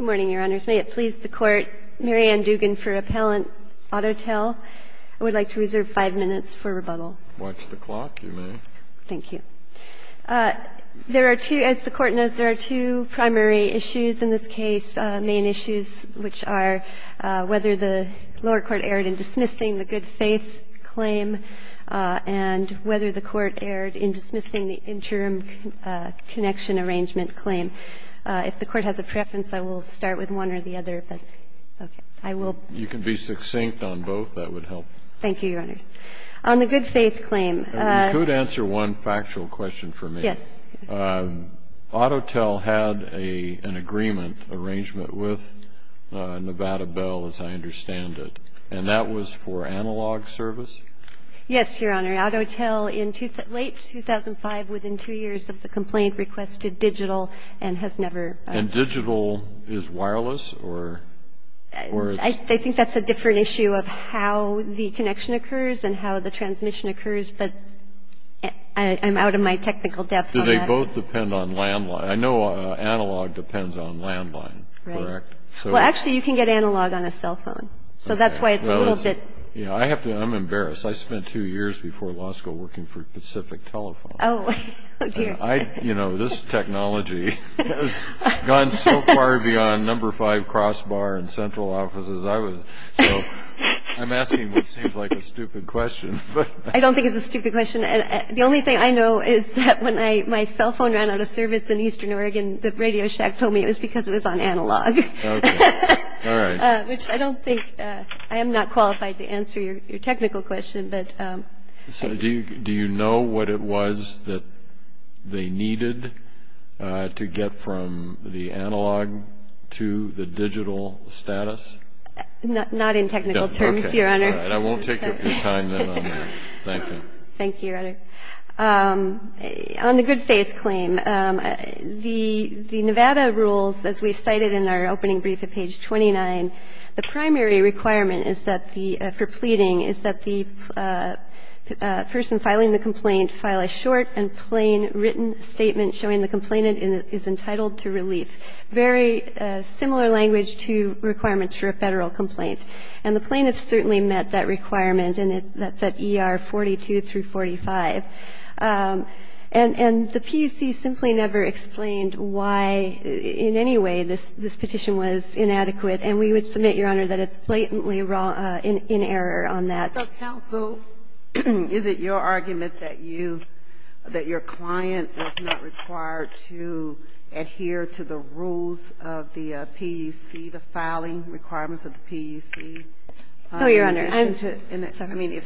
May it please the Court, Mary Ann Dugan for Appellant Autotel. I would like to reserve 5 minutes for rebuttal. Watch the clock, you may. Thank you. There are two, as the Court knows, there are two primary issues in this case, main issues, which are whether the lower court erred in dismissing the good faith claim and whether the Court erred in dismissing the interim connection arrangement claim. If the Court has a preference, I will start with one or the other, but I will. You can be succinct on both, that would help. Thank you, Your Honors. On the good faith claim. You could answer one factual question for me. Yes. Autotel had an agreement arrangement with Nevada Bell, as I understand it, and that was for analog service? Yes, Your Honor. Autotel in late 2005, within two years of the complaint, requested digital and has never. And digital is wireless or? I think that's a different issue of how the connection occurs and how the transmission occurs. But I'm out of my technical depth on that. Do they both depend on landline? I know analog depends on landline, correct? Well, actually, you can get analog on a cell phone, so that's why it's a little bit. I'm embarrassed. I spent two years before law school working for Pacific Telephone. Oh, dear. You know, this technology has gone so far beyond number five crossbar in central offices. So I'm asking what seems like a stupid question. I don't think it's a stupid question. The only thing I know is that when my cell phone ran out of service in eastern Oregon, the radio shack told me it was because it was on analog. All right. Which I don't think, I am not qualified to answer your technical question, but. So do you know what it was that they needed to get from the analog to the digital status? Not in technical terms, Your Honor. All right. I won't take up your time then on that. Thank you. Thank you, Your Honor. On the good faith claim, the Nevada rules, as we cited in our opening brief at page 29, the primary requirement for pleading is that the person filing the complaint file a short and plain written statement showing the complainant is entitled to relief, very similar language to requirements for a Federal complaint. And the plaintiff certainly met that requirement, and that's at ER 42 through 45. And the PUC simply never explained why in any way this petition was inadequate. And we would submit, Your Honor, that it's blatantly in error on that. So, counsel, is it your argument that you, that your client was not required to adhere to the rules of the PUC, the filing requirements of the PUC? No, Your Honor. I mean,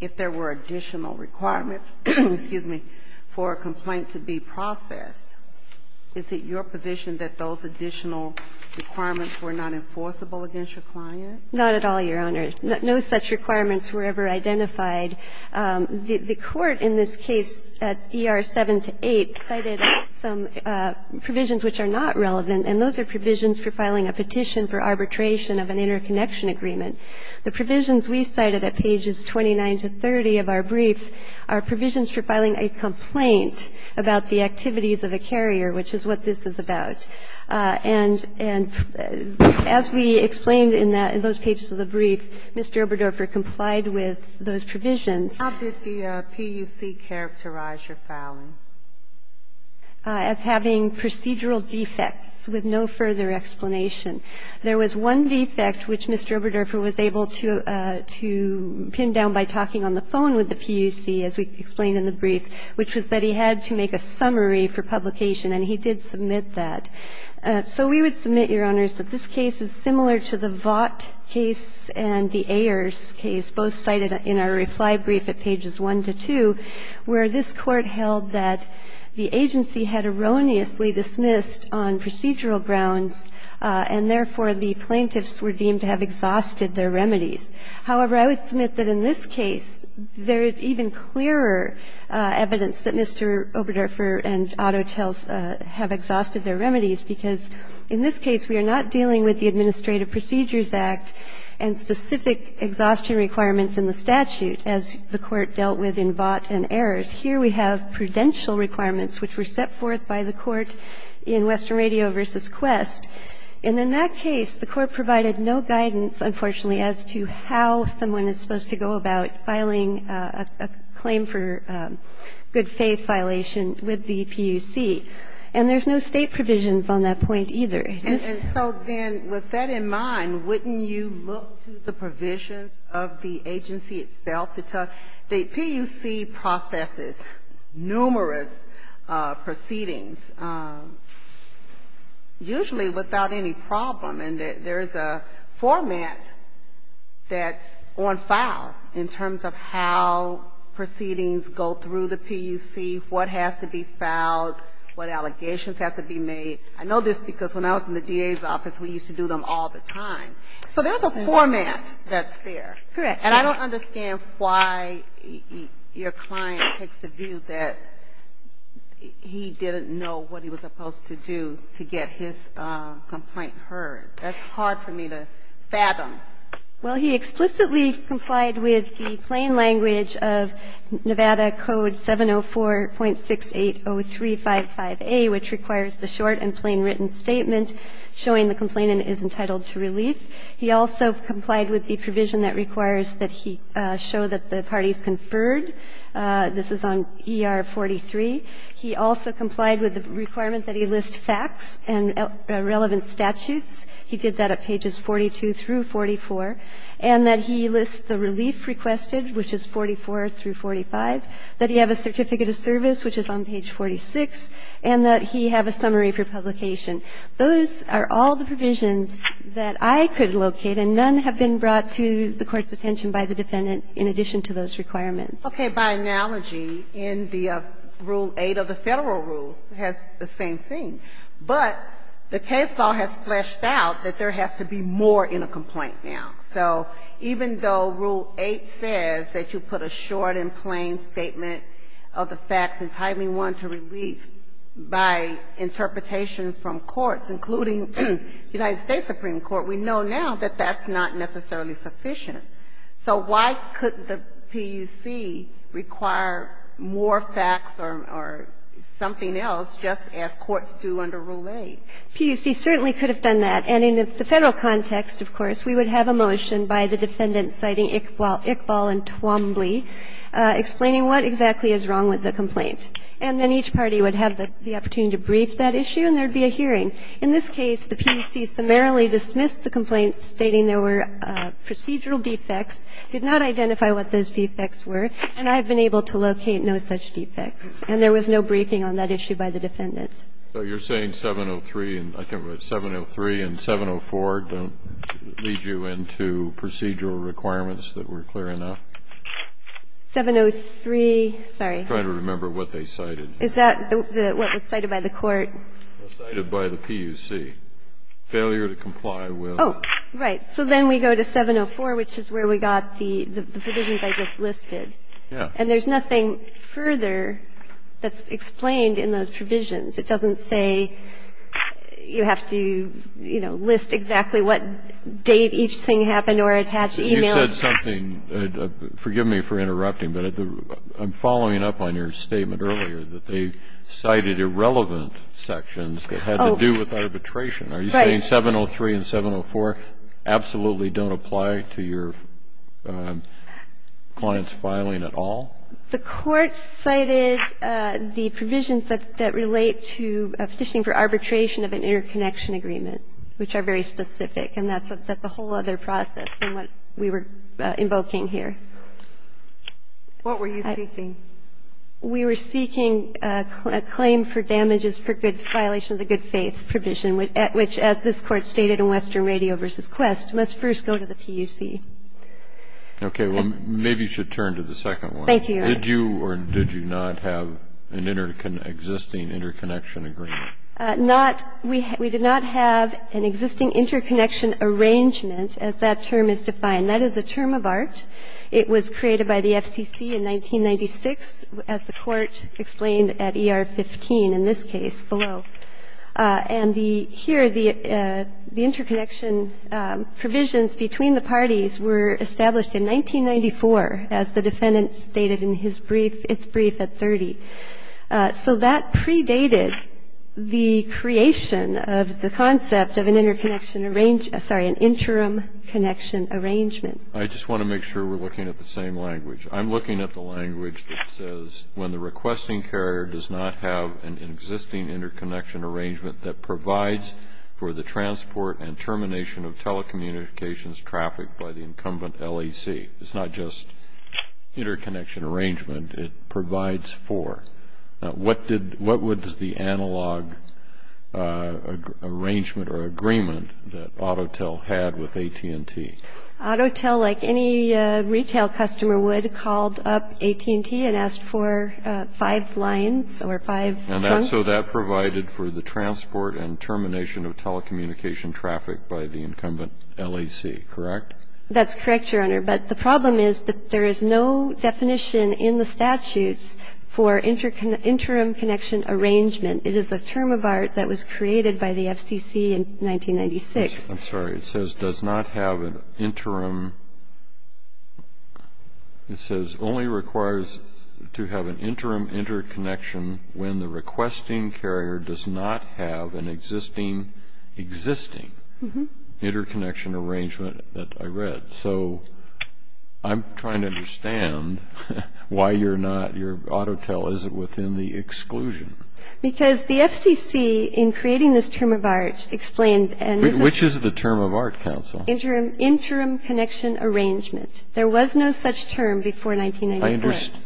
if there were additional requirements, excuse me, for a complaint to be processed, is it your position that those additional requirements were not enforceable against your client? Not at all, Your Honor. No such requirements were ever identified. The Court in this case, at ER 7 to 8, cited some provisions which are not relevant, and those are provisions for filing a petition for arbitration of an interconnection agreement. The provisions we cited at pages 29 to 30 of our brief are provisions for filing a complaint about the activities of a carrier, which is what this is about. And as we explained in those pages of the brief, Mr. Oberdorfer complied with those provisions. How did the PUC characterize your filing? As having procedural defects with no further explanation. There was one defect which Mr. Oberdorfer was able to pin down by talking on the phone with the PUC, as we explained in the brief, which was that he had to make a summary for publication, and he did submit that. So we would submit, Your Honors, that this case is similar to the Vaught case and the supply brief at pages 1 to 2, where this Court held that the agency had erroneously dismissed on procedural grounds, and therefore, the plaintiffs were deemed to have exhausted their remedies. However, I would submit that in this case, there is even clearer evidence that Mr. Oberdorfer and Otto have exhausted their remedies, because in this case, we are not dealing with the Administrative Procedures Act and specific exhaustion requirements in the statute, as the Court dealt with in Vaught and Ayers. Here we have prudential requirements, which were set forth by the Court in Western Radio v. Quest, and in that case, the Court provided no guidance, unfortunately, as to how someone is supposed to go about filing a claim for good-faith violation with the PUC. And there's no State provisions on that point, either. And so then, with that in mind, wouldn't you look to the provisions of the agency itself to tell the PUC processes numerous proceedings, usually without any problem, and there's a format that's on file in terms of how proceedings go through the PUC, what has to be filed, what allegations have to be made. I know this because when I was in the DA's office, we used to do them all the time. So there's a format that's there. Correct. And I don't understand why your client takes the view that he didn't know what he was supposed to do to get his complaint heard. That's hard for me to fathom. Well, he explicitly complied with the plain language of Nevada Code 704.680355A, which requires the short and plain written statement showing the complainant is entitled to relief. He also complied with the provision that requires that he show that the parties conferred. This is on ER 43. He also complied with the requirement that he list facts and relevant statutes. He did that at pages 42 through 44, and that he list the relief requested, which is 44 through 45, that he have a certificate of service, which is on page 46, and that he have a summary for publication. Those are all the provisions that I could locate, and none have been brought to the Court's attention by the defendant in addition to those requirements. Okay. By analogy, in the Rule 8 of the Federal Rules, it has the same thing. But the case law has fleshed out that there has to be more in a complaint now. So even though Rule 8 says that you put a short and plain statement of the facts entitling one to relief by interpretation from courts, including United States Supreme Court, we know now that that's not necessarily sufficient. So why could the PUC require more facts or something else just as courts do under Rule 8? PUC certainly could have done that. And in the Federal context, of course, we would have a motion by the defendant citing Iqbal and Twombly, explaining what exactly is wrong with the complaint. And then each party would have the opportunity to brief that issue, and there would be a hearing. In this case, the PUC summarily dismissed the complaint, stating there were procedural defects, did not identify what those defects were, and I have been able to locate no such defects. And there was no briefing on that issue by the defendant. So you're saying 703 and 704 don't lead you into procedural requirements that were clear enough? 703, sorry. I'm trying to remember what they cited. Is that what was cited by the court? Cited by the PUC. Failure to comply with. Oh, right. So then we go to 704, which is where we got the provisions I just listed. Yes. And there's nothing further that's explained in those provisions. It doesn't say you have to, you know, list exactly what date each thing happened or attach e-mails. You said something, forgive me for interrupting, but I'm following up on your statement earlier that they cited irrelevant sections that had to do with arbitration. Are you saying 703 and 704 absolutely don't apply to your client's filing at all? The court cited the provisions that relate to a petition for arbitration of an interconnection agreement, which are very specific. And that's a whole other process than what we were invoking here. What were you seeking? We were seeking a claim for damages for violation of the good faith provision, which, as this Court stated in Western Radio v. Quest, must first go to the PUC. Okay. Well, maybe you should turn to the second one. Did you or did you not have an existing interconnection agreement? Not. We did not have an existing interconnection arrangement, as that term is defined. That is a term of art. It was created by the FCC in 1996, as the Court explained at ER 15 in this case below. And the here, the interconnection provisions between the parties were established in 1994, as the defendant stated in his brief, its brief at 30. So that predated the creation of the concept of an interconnection arrangement sorry, an interim connection arrangement. I just want to make sure we're looking at the same language. I'm looking at the language that says when the requesting carrier does not have an existing interconnection arrangement that provides for the transport and termination of telecommunications traffic by the incumbent LAC. It's not just interconnection arrangement. It provides for. What did, what was the analog arrangement or agreement that AutoTel had with AT&T? AutoTel, like any retail customer would, called up AT&T and asked for five lines or five hunks. And so that provided for the transport and termination of telecommunication traffic by the incumbent LAC. Correct? That's correct, Your Honor. But the problem is that there is no definition in the statutes for interim connection arrangement. It is a term of art that was created by the FCC in 1996. I'm sorry. It says does not have an interim. It says only requires to have an interim interconnection when the requesting carrier does not have an existing, existing interconnection arrangement that I read. So I'm trying to understand why you're not, your AutoTel, is it within the exclusion? Because the FCC in creating this term of art explained and. Which is the term of art, counsel? Interim, interim connection arrangement. There was no such term before 1994. I understand.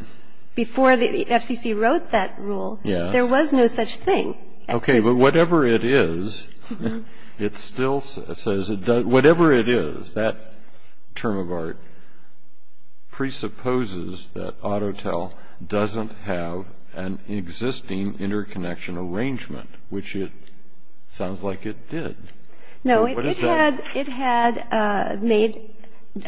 Before the FCC wrote that rule. Yes. There was no such thing. Okay. But whatever it is, it still says it does. Whatever it is, that term of art presupposes that AutoTel doesn't have an existing interconnection arrangement, which it sounds like it did. No, it had made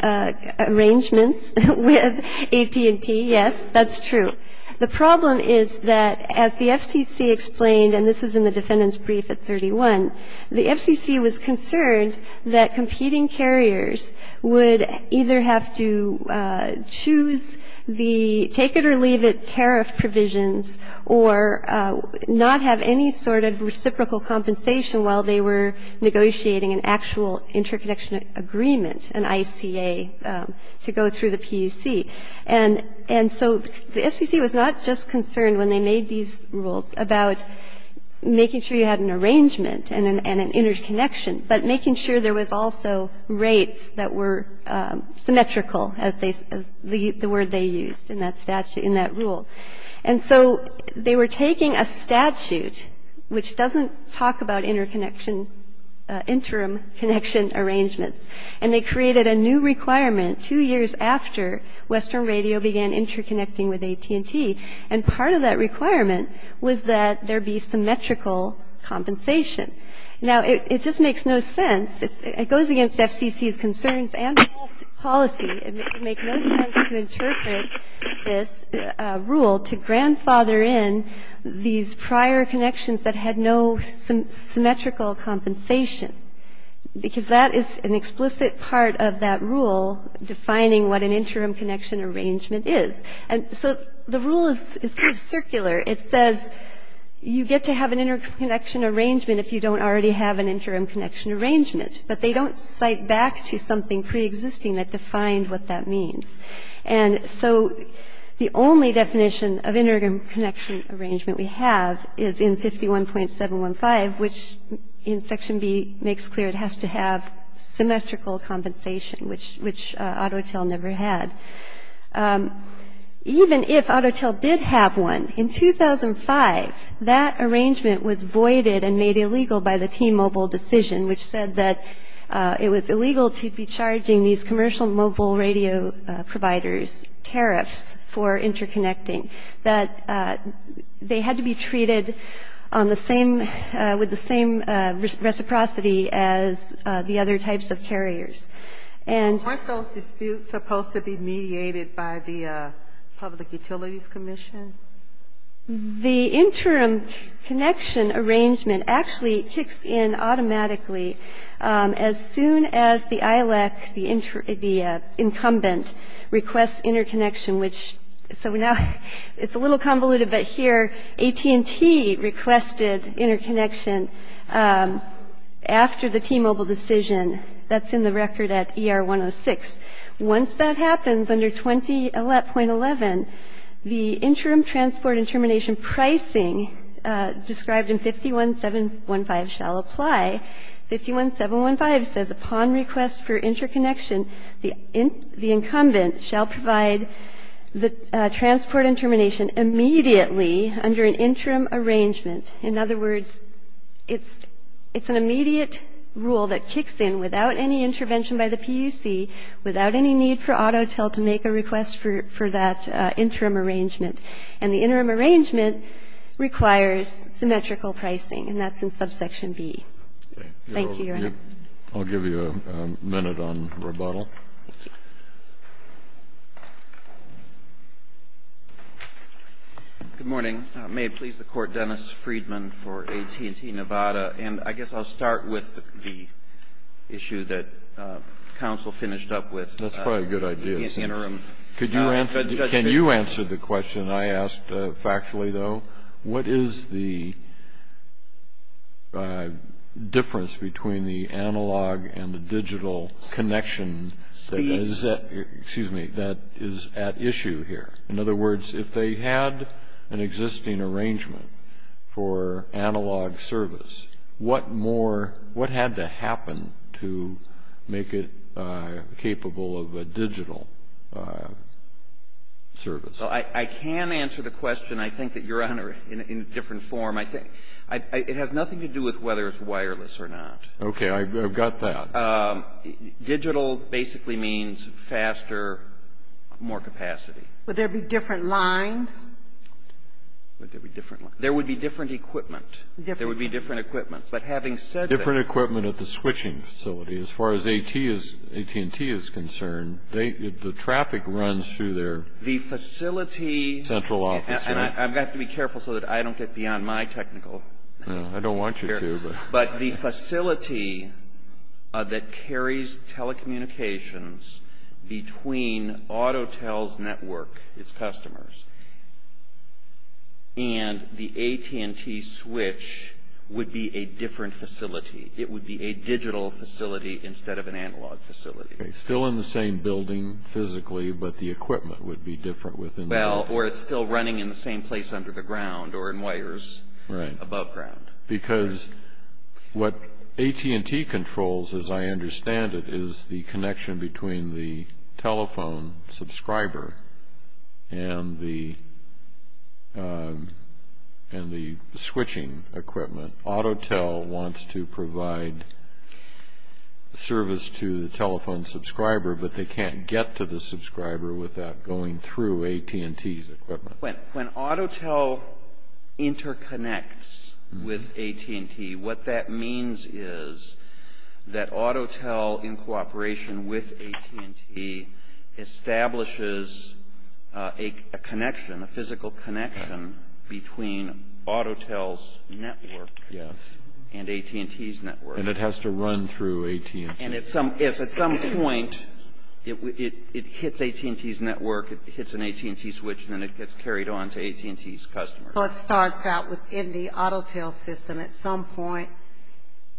arrangements with AT&T. Yes, that's true. The problem is that as the FCC explained, and this is in the defendant's brief at 31, the FCC was concerned that competing carriers would either have to choose the take it or leave it tariff provisions or not have any sort of reciprocal compensation while they were negotiating an actual interconnection agreement, an ICA, to go through the PUC. And so the FCC was not just concerned when they made these rules about making sure you had an arrangement and an interconnection, but making sure there was also rates that were symmetrical as the word they used in that statute, in that rule. And so they were taking a statute which doesn't talk about interconnection, interim connection arrangements, and they created a new requirement two years after Western Radio began interconnecting with AT&T. And part of that requirement was that there be symmetrical compensation. Now, it just makes no sense. It goes against FCC's concerns and policy. It would make no sense to interpret this rule to grandfather in these prior connections that had no symmetrical compensation because that is an explicit part of that rule defining what an interim connection arrangement is. And so the rule is kind of circular. It says you get to have an interconnection arrangement if you don't already have an interim connection arrangement, but they don't cite back to something preexisting that defined what that means. And so the only definition of interim connection arrangement we have is in 51.715, which in Section B makes clear it has to have symmetrical compensation, which Autotel never had. Even if Autotel did have one, in 2005, that arrangement was voided and made illegal by the T-Mobile decision, which said that it was illegal to be charging these commercial mobile radio providers tariffs for interconnecting, that they had to be treated on the same, with the same reciprocity as the other types of carriers. And... Aren't those disputes supposed to be mediated by the Public Utilities Commission? The interim connection arrangement actually kicks in automatically as soon as the ILEC, the incumbent, requests interconnection, which so now it's a little convoluted, but here AT&T requested interconnection after the T-Mobile decision. That's in the record at ER 106. Once that happens, under 20.11, the interim transport and termination pricing described in 51.715 shall apply. 51.715 says upon request for interconnection, the incumbent shall provide the transport and termination immediately under an interim arrangement. In other words, it's an immediate rule that kicks in without any intervention by the PUC, without any need for AutoTel to make a request for that interim arrangement. And the interim arrangement requires symmetrical pricing, and that's in subsection B. Thank you, Your Honor. I'll give you a minute on rebuttal. Good morning. May it please the Court, Dennis Friedman for AT&T Nevada. And I guess I'll start with the issue that counsel finished up with. That's probably a good idea. Can you answer the question I asked factually, though? What is the difference between the analog and the digital connection that is at issue here? In other words, if they had an existing arrangement for analog service, what more — what had to happen to make it capable of a digital service? Well, I can answer the question, I think, that, Your Honor, in a different form. I think — it has nothing to do with whether it's wireless or not. Okay. I've got that. Digital basically means faster, more capacity. Would there be different lines? Would there be different lines? There would be different equipment. There would be different equipment. But having said that — Different equipment at the switching facility. As far as AT&T is concerned, the traffic runs through their — The facility — Central office, right? I have to be careful so that I don't get beyond my technical — I don't want you to, but — It's customers. And the AT&T switch would be a different facility. It would be a digital facility instead of an analog facility. It's still in the same building physically, but the equipment would be different within the — Well, or it's still running in the same place under the ground or in wires above ground. Because what AT&T controls, as I understand it, is the connection between the telephone subscriber and the switching equipment. Autotel wants to provide service to the telephone subscriber, but they can't get to the subscriber without going through AT&T's equipment. When Autotel interconnects with AT&T, what that means is that Autotel, in cooperation with AT&T, establishes a connection, a physical connection, between Autotel's network and AT&T's network. And it has to run through AT&T. If it doesn't work, it hits an AT&T switch, and then it gets carried on to AT&T's customers. So it starts out within the Autotel system. At some point,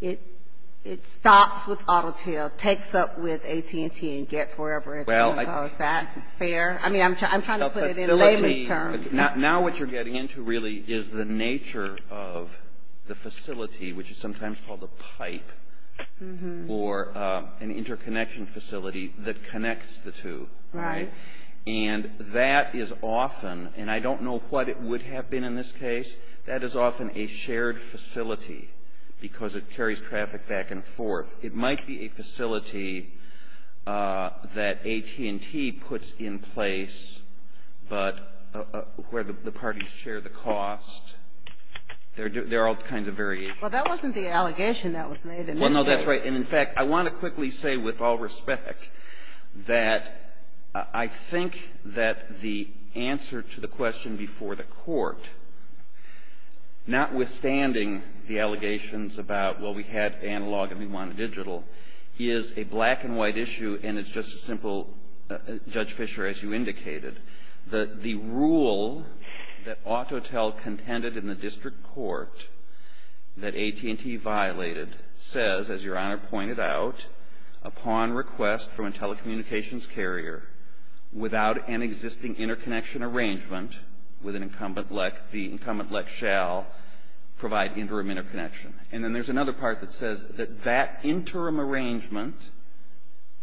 it stops with Autotel, takes up with AT&T, and gets wherever it's going. Is that fair? I mean, I'm trying to put it in layman's terms. Now what you're getting into, really, is the nature of the facility, which is sometimes called the pipe, or an interconnection facility that connects the two. Right. And that is often, and I don't know what it would have been in this case, that is often a shared facility, because it carries traffic back and forth. It might be a facility that AT&T puts in place, but where the parties share the cost. There are all kinds of variations. Well, that wasn't the allegation that was made in this case. Well, no, that's right. And, in fact, I want to quickly say, with all respect, that I think that the answer to the question before the court, notwithstanding the allegations about, well, we had analog and we want digital, is a black-and-white issue, and it's just as simple, Judge Fischer, as you indicated, that the rule that Autotel contended in the district court, that AT&T violated, says, as Your Honor pointed out, upon request from a telecommunications carrier, without an existing interconnection arrangement with an incumbent LEC, the incumbent LEC shall provide interim interconnection. And then there's another part that says that that interim arrangement,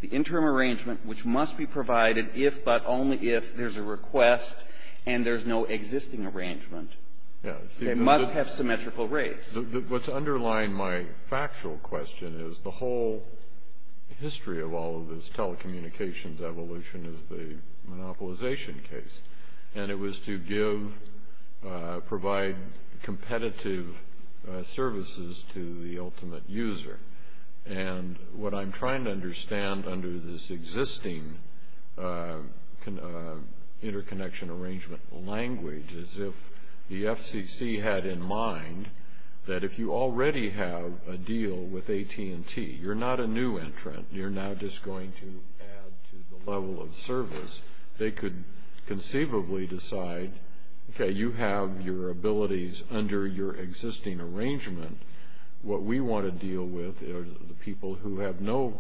the interim arrangement which must be provided if, but only if, there's a request and there's no existing arrangement. They must have symmetrical rates. What's underlying my factual question is the whole history of all of this telecommunications evolution is the monopolization case. And it was to give, provide competitive services to the ultimate user. And what I'm trying to understand under this existing interconnection arrangement language is if the FCC had in mind that if you already have a deal with AT&T, you're not a new entrant, you're now just going to add to the level of service, they could conceivably decide, okay, you have your abilities under your existing arrangement. What we want to deal with are the people who have no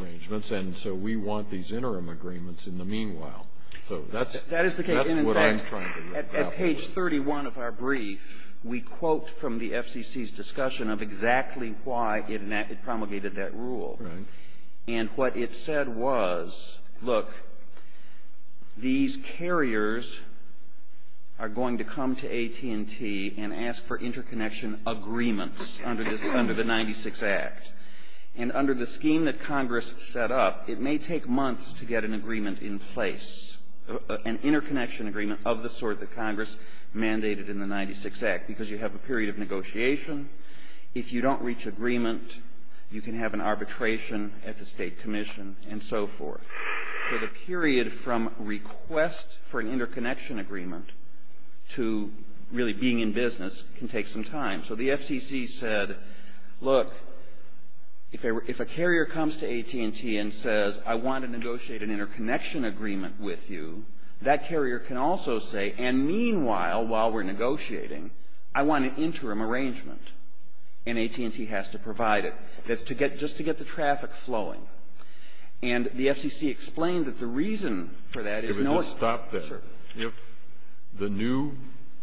arrangements, and so we want these interim agreements in the meanwhile. So that's what I'm trying to get at. That is the case, and in fact, at page 31 of our brief, we quote from the FCC's discussion of exactly why it promulgated that rule. And what it said was, look, these carriers are going to come to AT&T and ask for interconnection agreements under the 96 Act. And under the scheme that Congress set up, it may take months to get an agreement in place, an interconnection agreement of the sort that Congress mandated in the 96 Act, because you have a period of negotiation. If you don't reach agreement, you can have an arbitration at the state commission and so forth. So the period from request for an interconnection agreement to really being in business can take some time. So the FCC said, look, if a carrier comes to AT&T and says, I want to negotiate an interconnection agreement with you, that carrier can also say, and meanwhile, while we're negotiating, I want an interim arrangement, and AT&T has to provide it, just to get the traffic flowing. And the FCC explained that the reason for that is no other. Let me just stop there. If the new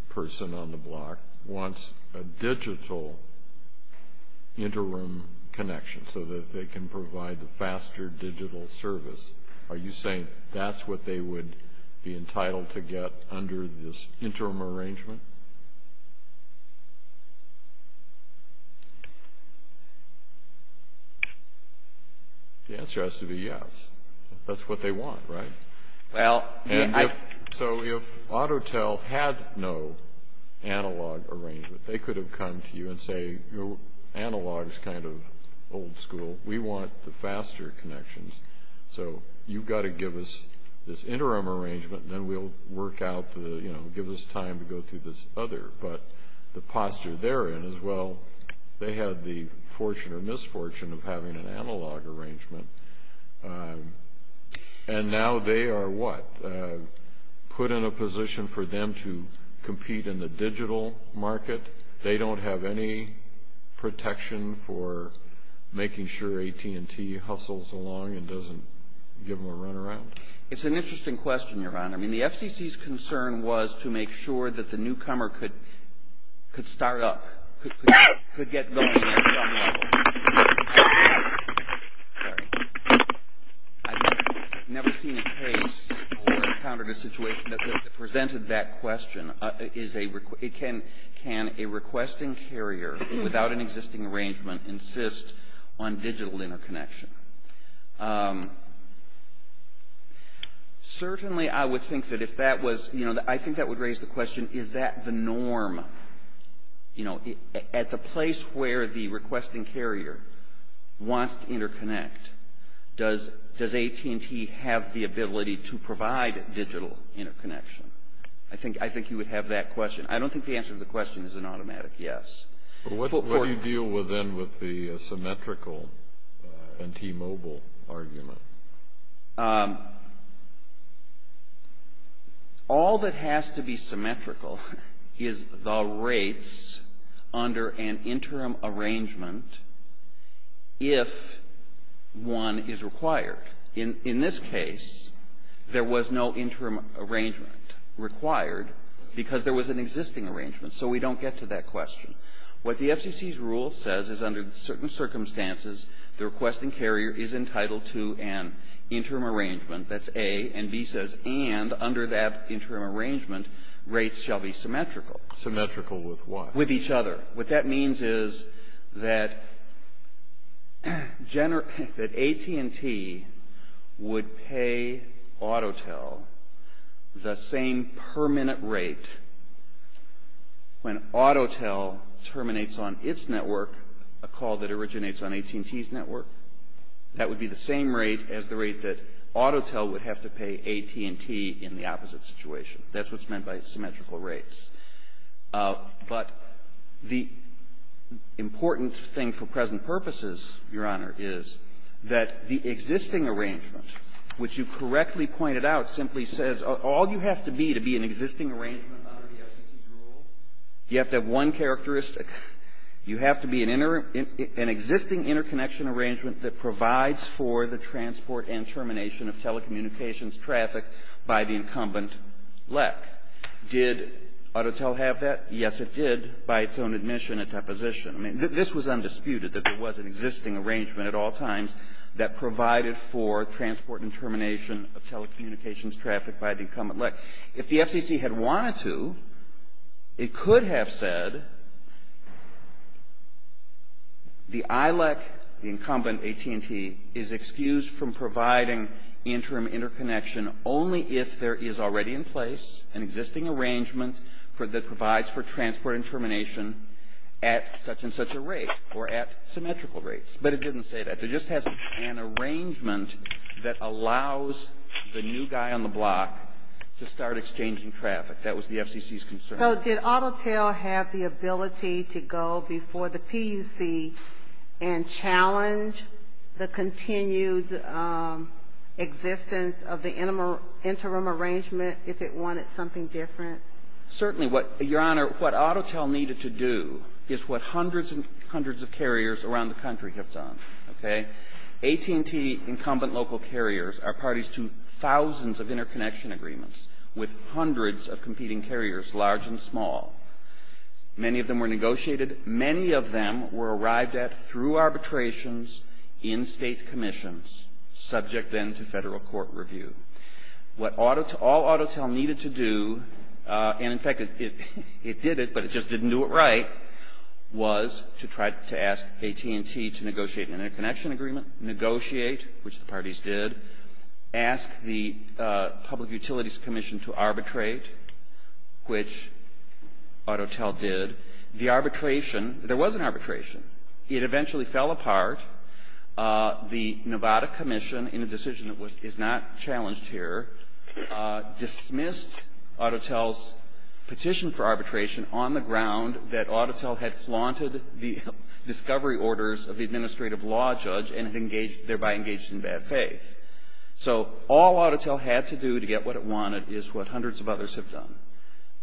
person on the block wants a digital interim connection so that they can provide the faster digital service, are you saying that's what they would be entitled to get under this interim arrangement? The answer has to be yes. That's what they want, right? So if Autotel had no analog arrangement, they could have come to you and say, analog is kind of old school. We want the faster connections. So you've got to give us this interim arrangement, and then we'll work out, give us time to go through this other. But the posture they're in is, well, they had the fortune or misfortune of having an analog arrangement, and now they are what? Put in a position for them to compete in the digital market. They don't have any protection for making sure AT&T hustles along and doesn't give them a run around? It's an interesting question, Your Honor. I mean, the FCC's concern was to make sure that the newcomer could start up, could get going at some level. Sorry. I've never seen a case or encountered a situation that presented that question. Can a requesting carrier, without an existing arrangement, insist on digital interconnection? Certainly, I would think that if that was, I think that would raise the question, is that the norm? At the place where the requesting carrier wants to interconnect, does AT&T have the ability to provide digital interconnection? I think you would have that question. I don't think the answer to the question is an automatic yes. What do you deal with then with the symmetrical and T-Mobile argument? All that has to be symmetrical is the rates under an interim arrangement if one is required. In this case, there was no interim arrangement required because there was an existing arrangement. So we don't get to that question. What the FCC's rule says is under certain circumstances, the requesting carrier is entitled to an interim arrangement. That's A. And B says, and under that interim arrangement, rates shall be symmetrical. Symmetrical with what? With each other. What that means is that AT&T would pay AutoTel the same permanent rate when AutoTel terminates on its network a call that originates on AT&T's network. That would be the same rate as the rate that AutoTel would have to pay AT&T in the opposite situation. That's what's meant by symmetrical rates. But the important thing for present purposes, Your Honor, is that the existing arrangement, which you correctly pointed out, simply says all you have to be to be an existing arrangement under the FCC's rule, you have to have one characteristic. You have to be an existing interconnection arrangement that provides for the transport and termination of telecommunications traffic by the incumbent LEC. Did AutoTel have that? Yes, it did, by its own admission and deposition. I mean, this was undisputed, that there was an existing arrangement at all times that provided for transport and termination of telecommunications traffic by the incumbent LEC. If the FCC had wanted to, it could have said the ILEC, the incumbent AT&T, is excused from providing interim interconnection only if there is already in place an existing arrangement that provides for transport and termination at such and such a rate or at symmetrical rates. But it didn't say that. It just has an arrangement that allows the new guy on the block to start exchanging traffic. That was the FCC's concern. So did AutoTel have the ability to go before the PUC and challenge the continued existence of the interim arrangement if it wanted something different? Certainly. Your Honor, what AutoTel needed to do is what hundreds and hundreds of carriers around the country have done. AT&T incumbent local carriers are parties to thousands of interconnection agreements with hundreds of competing carriers, large and small. Many of them were negotiated. Many of them were arrived at through arbitrations in state commissions, subject then to federal court review. What all AutoTel needed to do, and in fact, it did it, but it just didn't do it right, was to try to ask AT&T to negotiate an interconnection agreement, negotiate, which the parties did, ask the Public Utilities Commission to arbitrate, which AutoTel did. The arbitration, there was an arbitration. It eventually fell apart. The Nevada Commission, in a decision that is not challenged here, dismissed AutoTel's petition for arbitration on the ground that AutoTel had flaunted the discovery orders of the administrative law judge and thereby engaged in bad faith. So all AutoTel had to do to get what it wanted is what hundreds of others have done,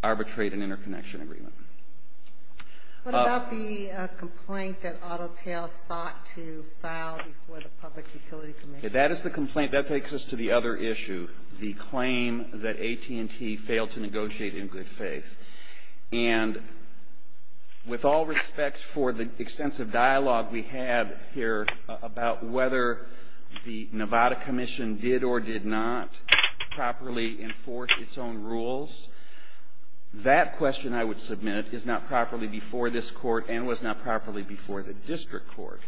arbitrate an interconnection agreement. What about the complaint that AutoTel sought to file before the Public Utilities Commission? That is the complaint. That takes us to the other issue, the claim that AT&T failed to negotiate in good faith. And with all respect for the extensive dialogue we have here about whether the Nevada Commission did or did not properly enforce its own rules, that question I would submit is not properly before this court and was not properly before the district court.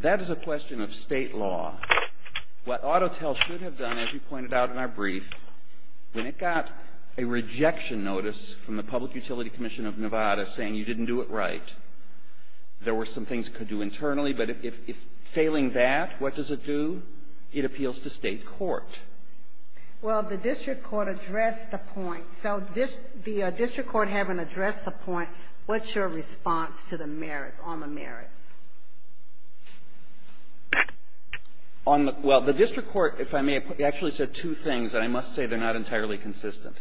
That is a question of state law. What AutoTel should have done, as you pointed out in our brief, when it got a rejection notice from the Public Utilities Commission of Nevada saying you didn't do it right, there were some things it could do internally, but if failing that, what does it do? It appeals to state court. Well, the district court addressed the point. So the district court having addressed the point, what's your response to the merits, on the merits? Well, the district court, if I may, actually said two things, and I must say they're not entirely consistent.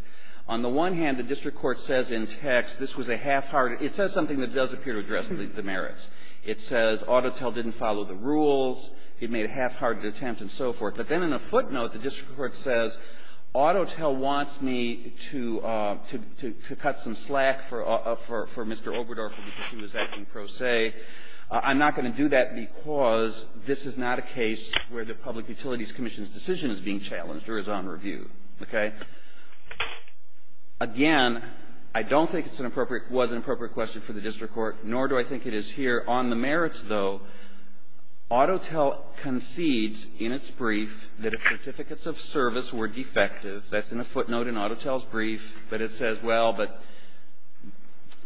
On the one hand, the district court says in text, this was a half-hearted – it says something that does appear to address the merits. It says AutoTel didn't follow the rules. It made a half-hearted attempt and so forth. But then in a footnote, the district court says, AutoTel wants me to cut some slack for Mr. Oberdorfer because he was acting pro se. I'm not going to do that because this is not a case where the Public Utilities Commission's decision is being challenged or is on review. Again, I don't think it was an appropriate question for the district court, nor do I think it is here. On the merits, though, AutoTel concedes in its brief that if certificates of service were defective, that's in a footnote in AutoTel's brief, but it says, well, but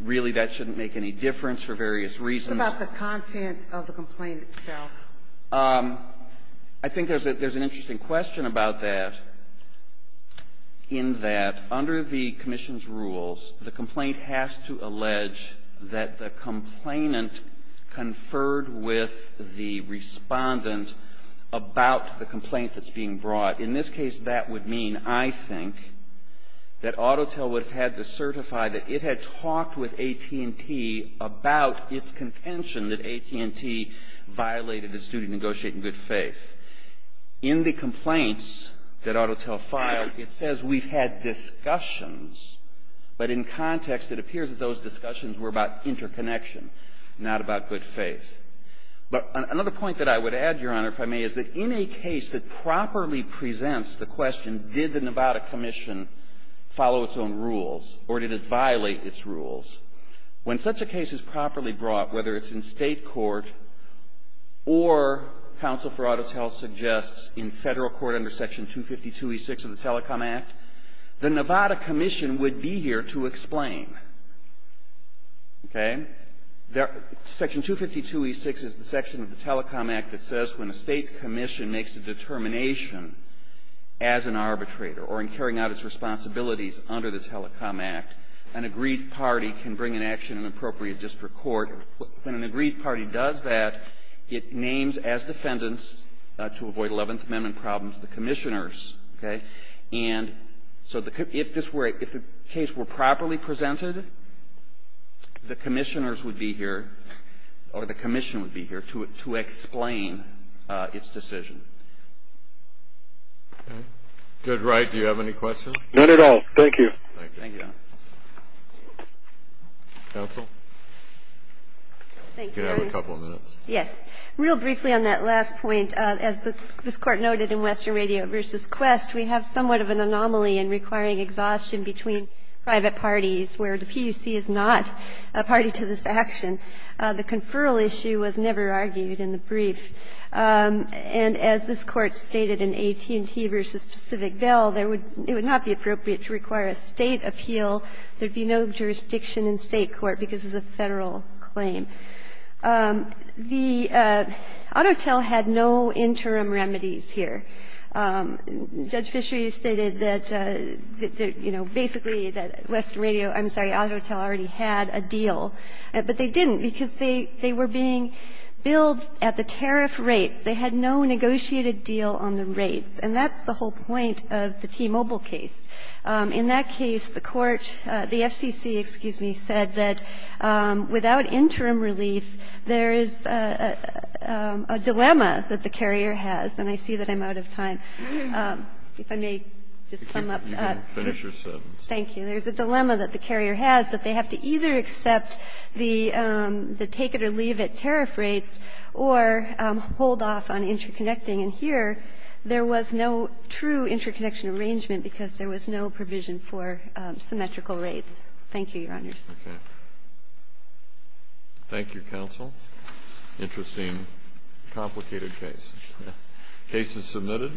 really that shouldn't make any difference for various reasons. What about the content of the complaint itself? I think there's an interesting question about that, in that under the commission's rules, the complaint has to allege that the complainant conferred with the Respondent about the complaint that's being brought. In this case, that would mean, I think, that AutoTel would have had to certify that it had talked with AT&T about its contention that AT&T violated its duty to negotiate in good faith. In the complaints that AutoTel filed, it says we've had discussions, but in context, it appears that those discussions were about interconnection, not about good faith. But another point that I would add, Your Honor, if I may, is that in a case that properly presents the question, did the Nevada Commission follow its own rules, or did it violate its rules? When such a case is properly brought, whether it's in state court, or counsel for AutoTel suggests in federal court under Section 252e6 of the Telecom Act, the Nevada Commission would be here to explain. Okay? Section 252e6 is the section of the Telecom Act that says when a state commission makes a determination as an arbitrator, or in carrying out its responsibilities under the Telecom Act, an agreed party can bring in action in appropriate district court. When an agreed party does that, it names as defendants, to avoid 11th Amendment problems, the commissioners. And so if the case were properly presented, the commissioners would be here, or the commission would be here, to explain its decision. Judge Wright, do you have any questions? None at all. Thank you. Counsel? Thank you. You have a couple of minutes. Yes. Real briefly on that last point, as this Court noted in Western Radio vs. Quest, we have somewhat of an anomaly in requiring exhaustion between private parties, where the PUC is not a party to this action. The conferral issue was never argued in the brief. And as this Court stated in AT&T vs. Pacific Bell, it would not be appropriate to require a State appeal. There would be no jurisdiction in State court because it's a Federal claim. The AUTOTEL had no interim remedies here. Judge Fisher, you stated that, you know, basically that Western Radio, I'm sorry, AUTOTEL already had a deal. But they didn't, because they were being billed at the tariff rates. They had no negotiated deal on the rates. And that's the whole point of the T-Mobile case. In that case, the court, the FCC, excuse me, said that without interim relief, there is a dilemma that the carrier has. And I see that I'm out of time. If I may just sum up. You can finish your sentence. Thank you. There's a dilemma that the carrier has, that they have to either accept the take-it-or-leave-it tariff rates or hold off on interconnecting. And here, there was no true interconnection arrangement because there was no provision for symmetrical rates. Thank you, Your Honors. Okay. Thank you, counsel. Interesting, complicated case. Case is submitted.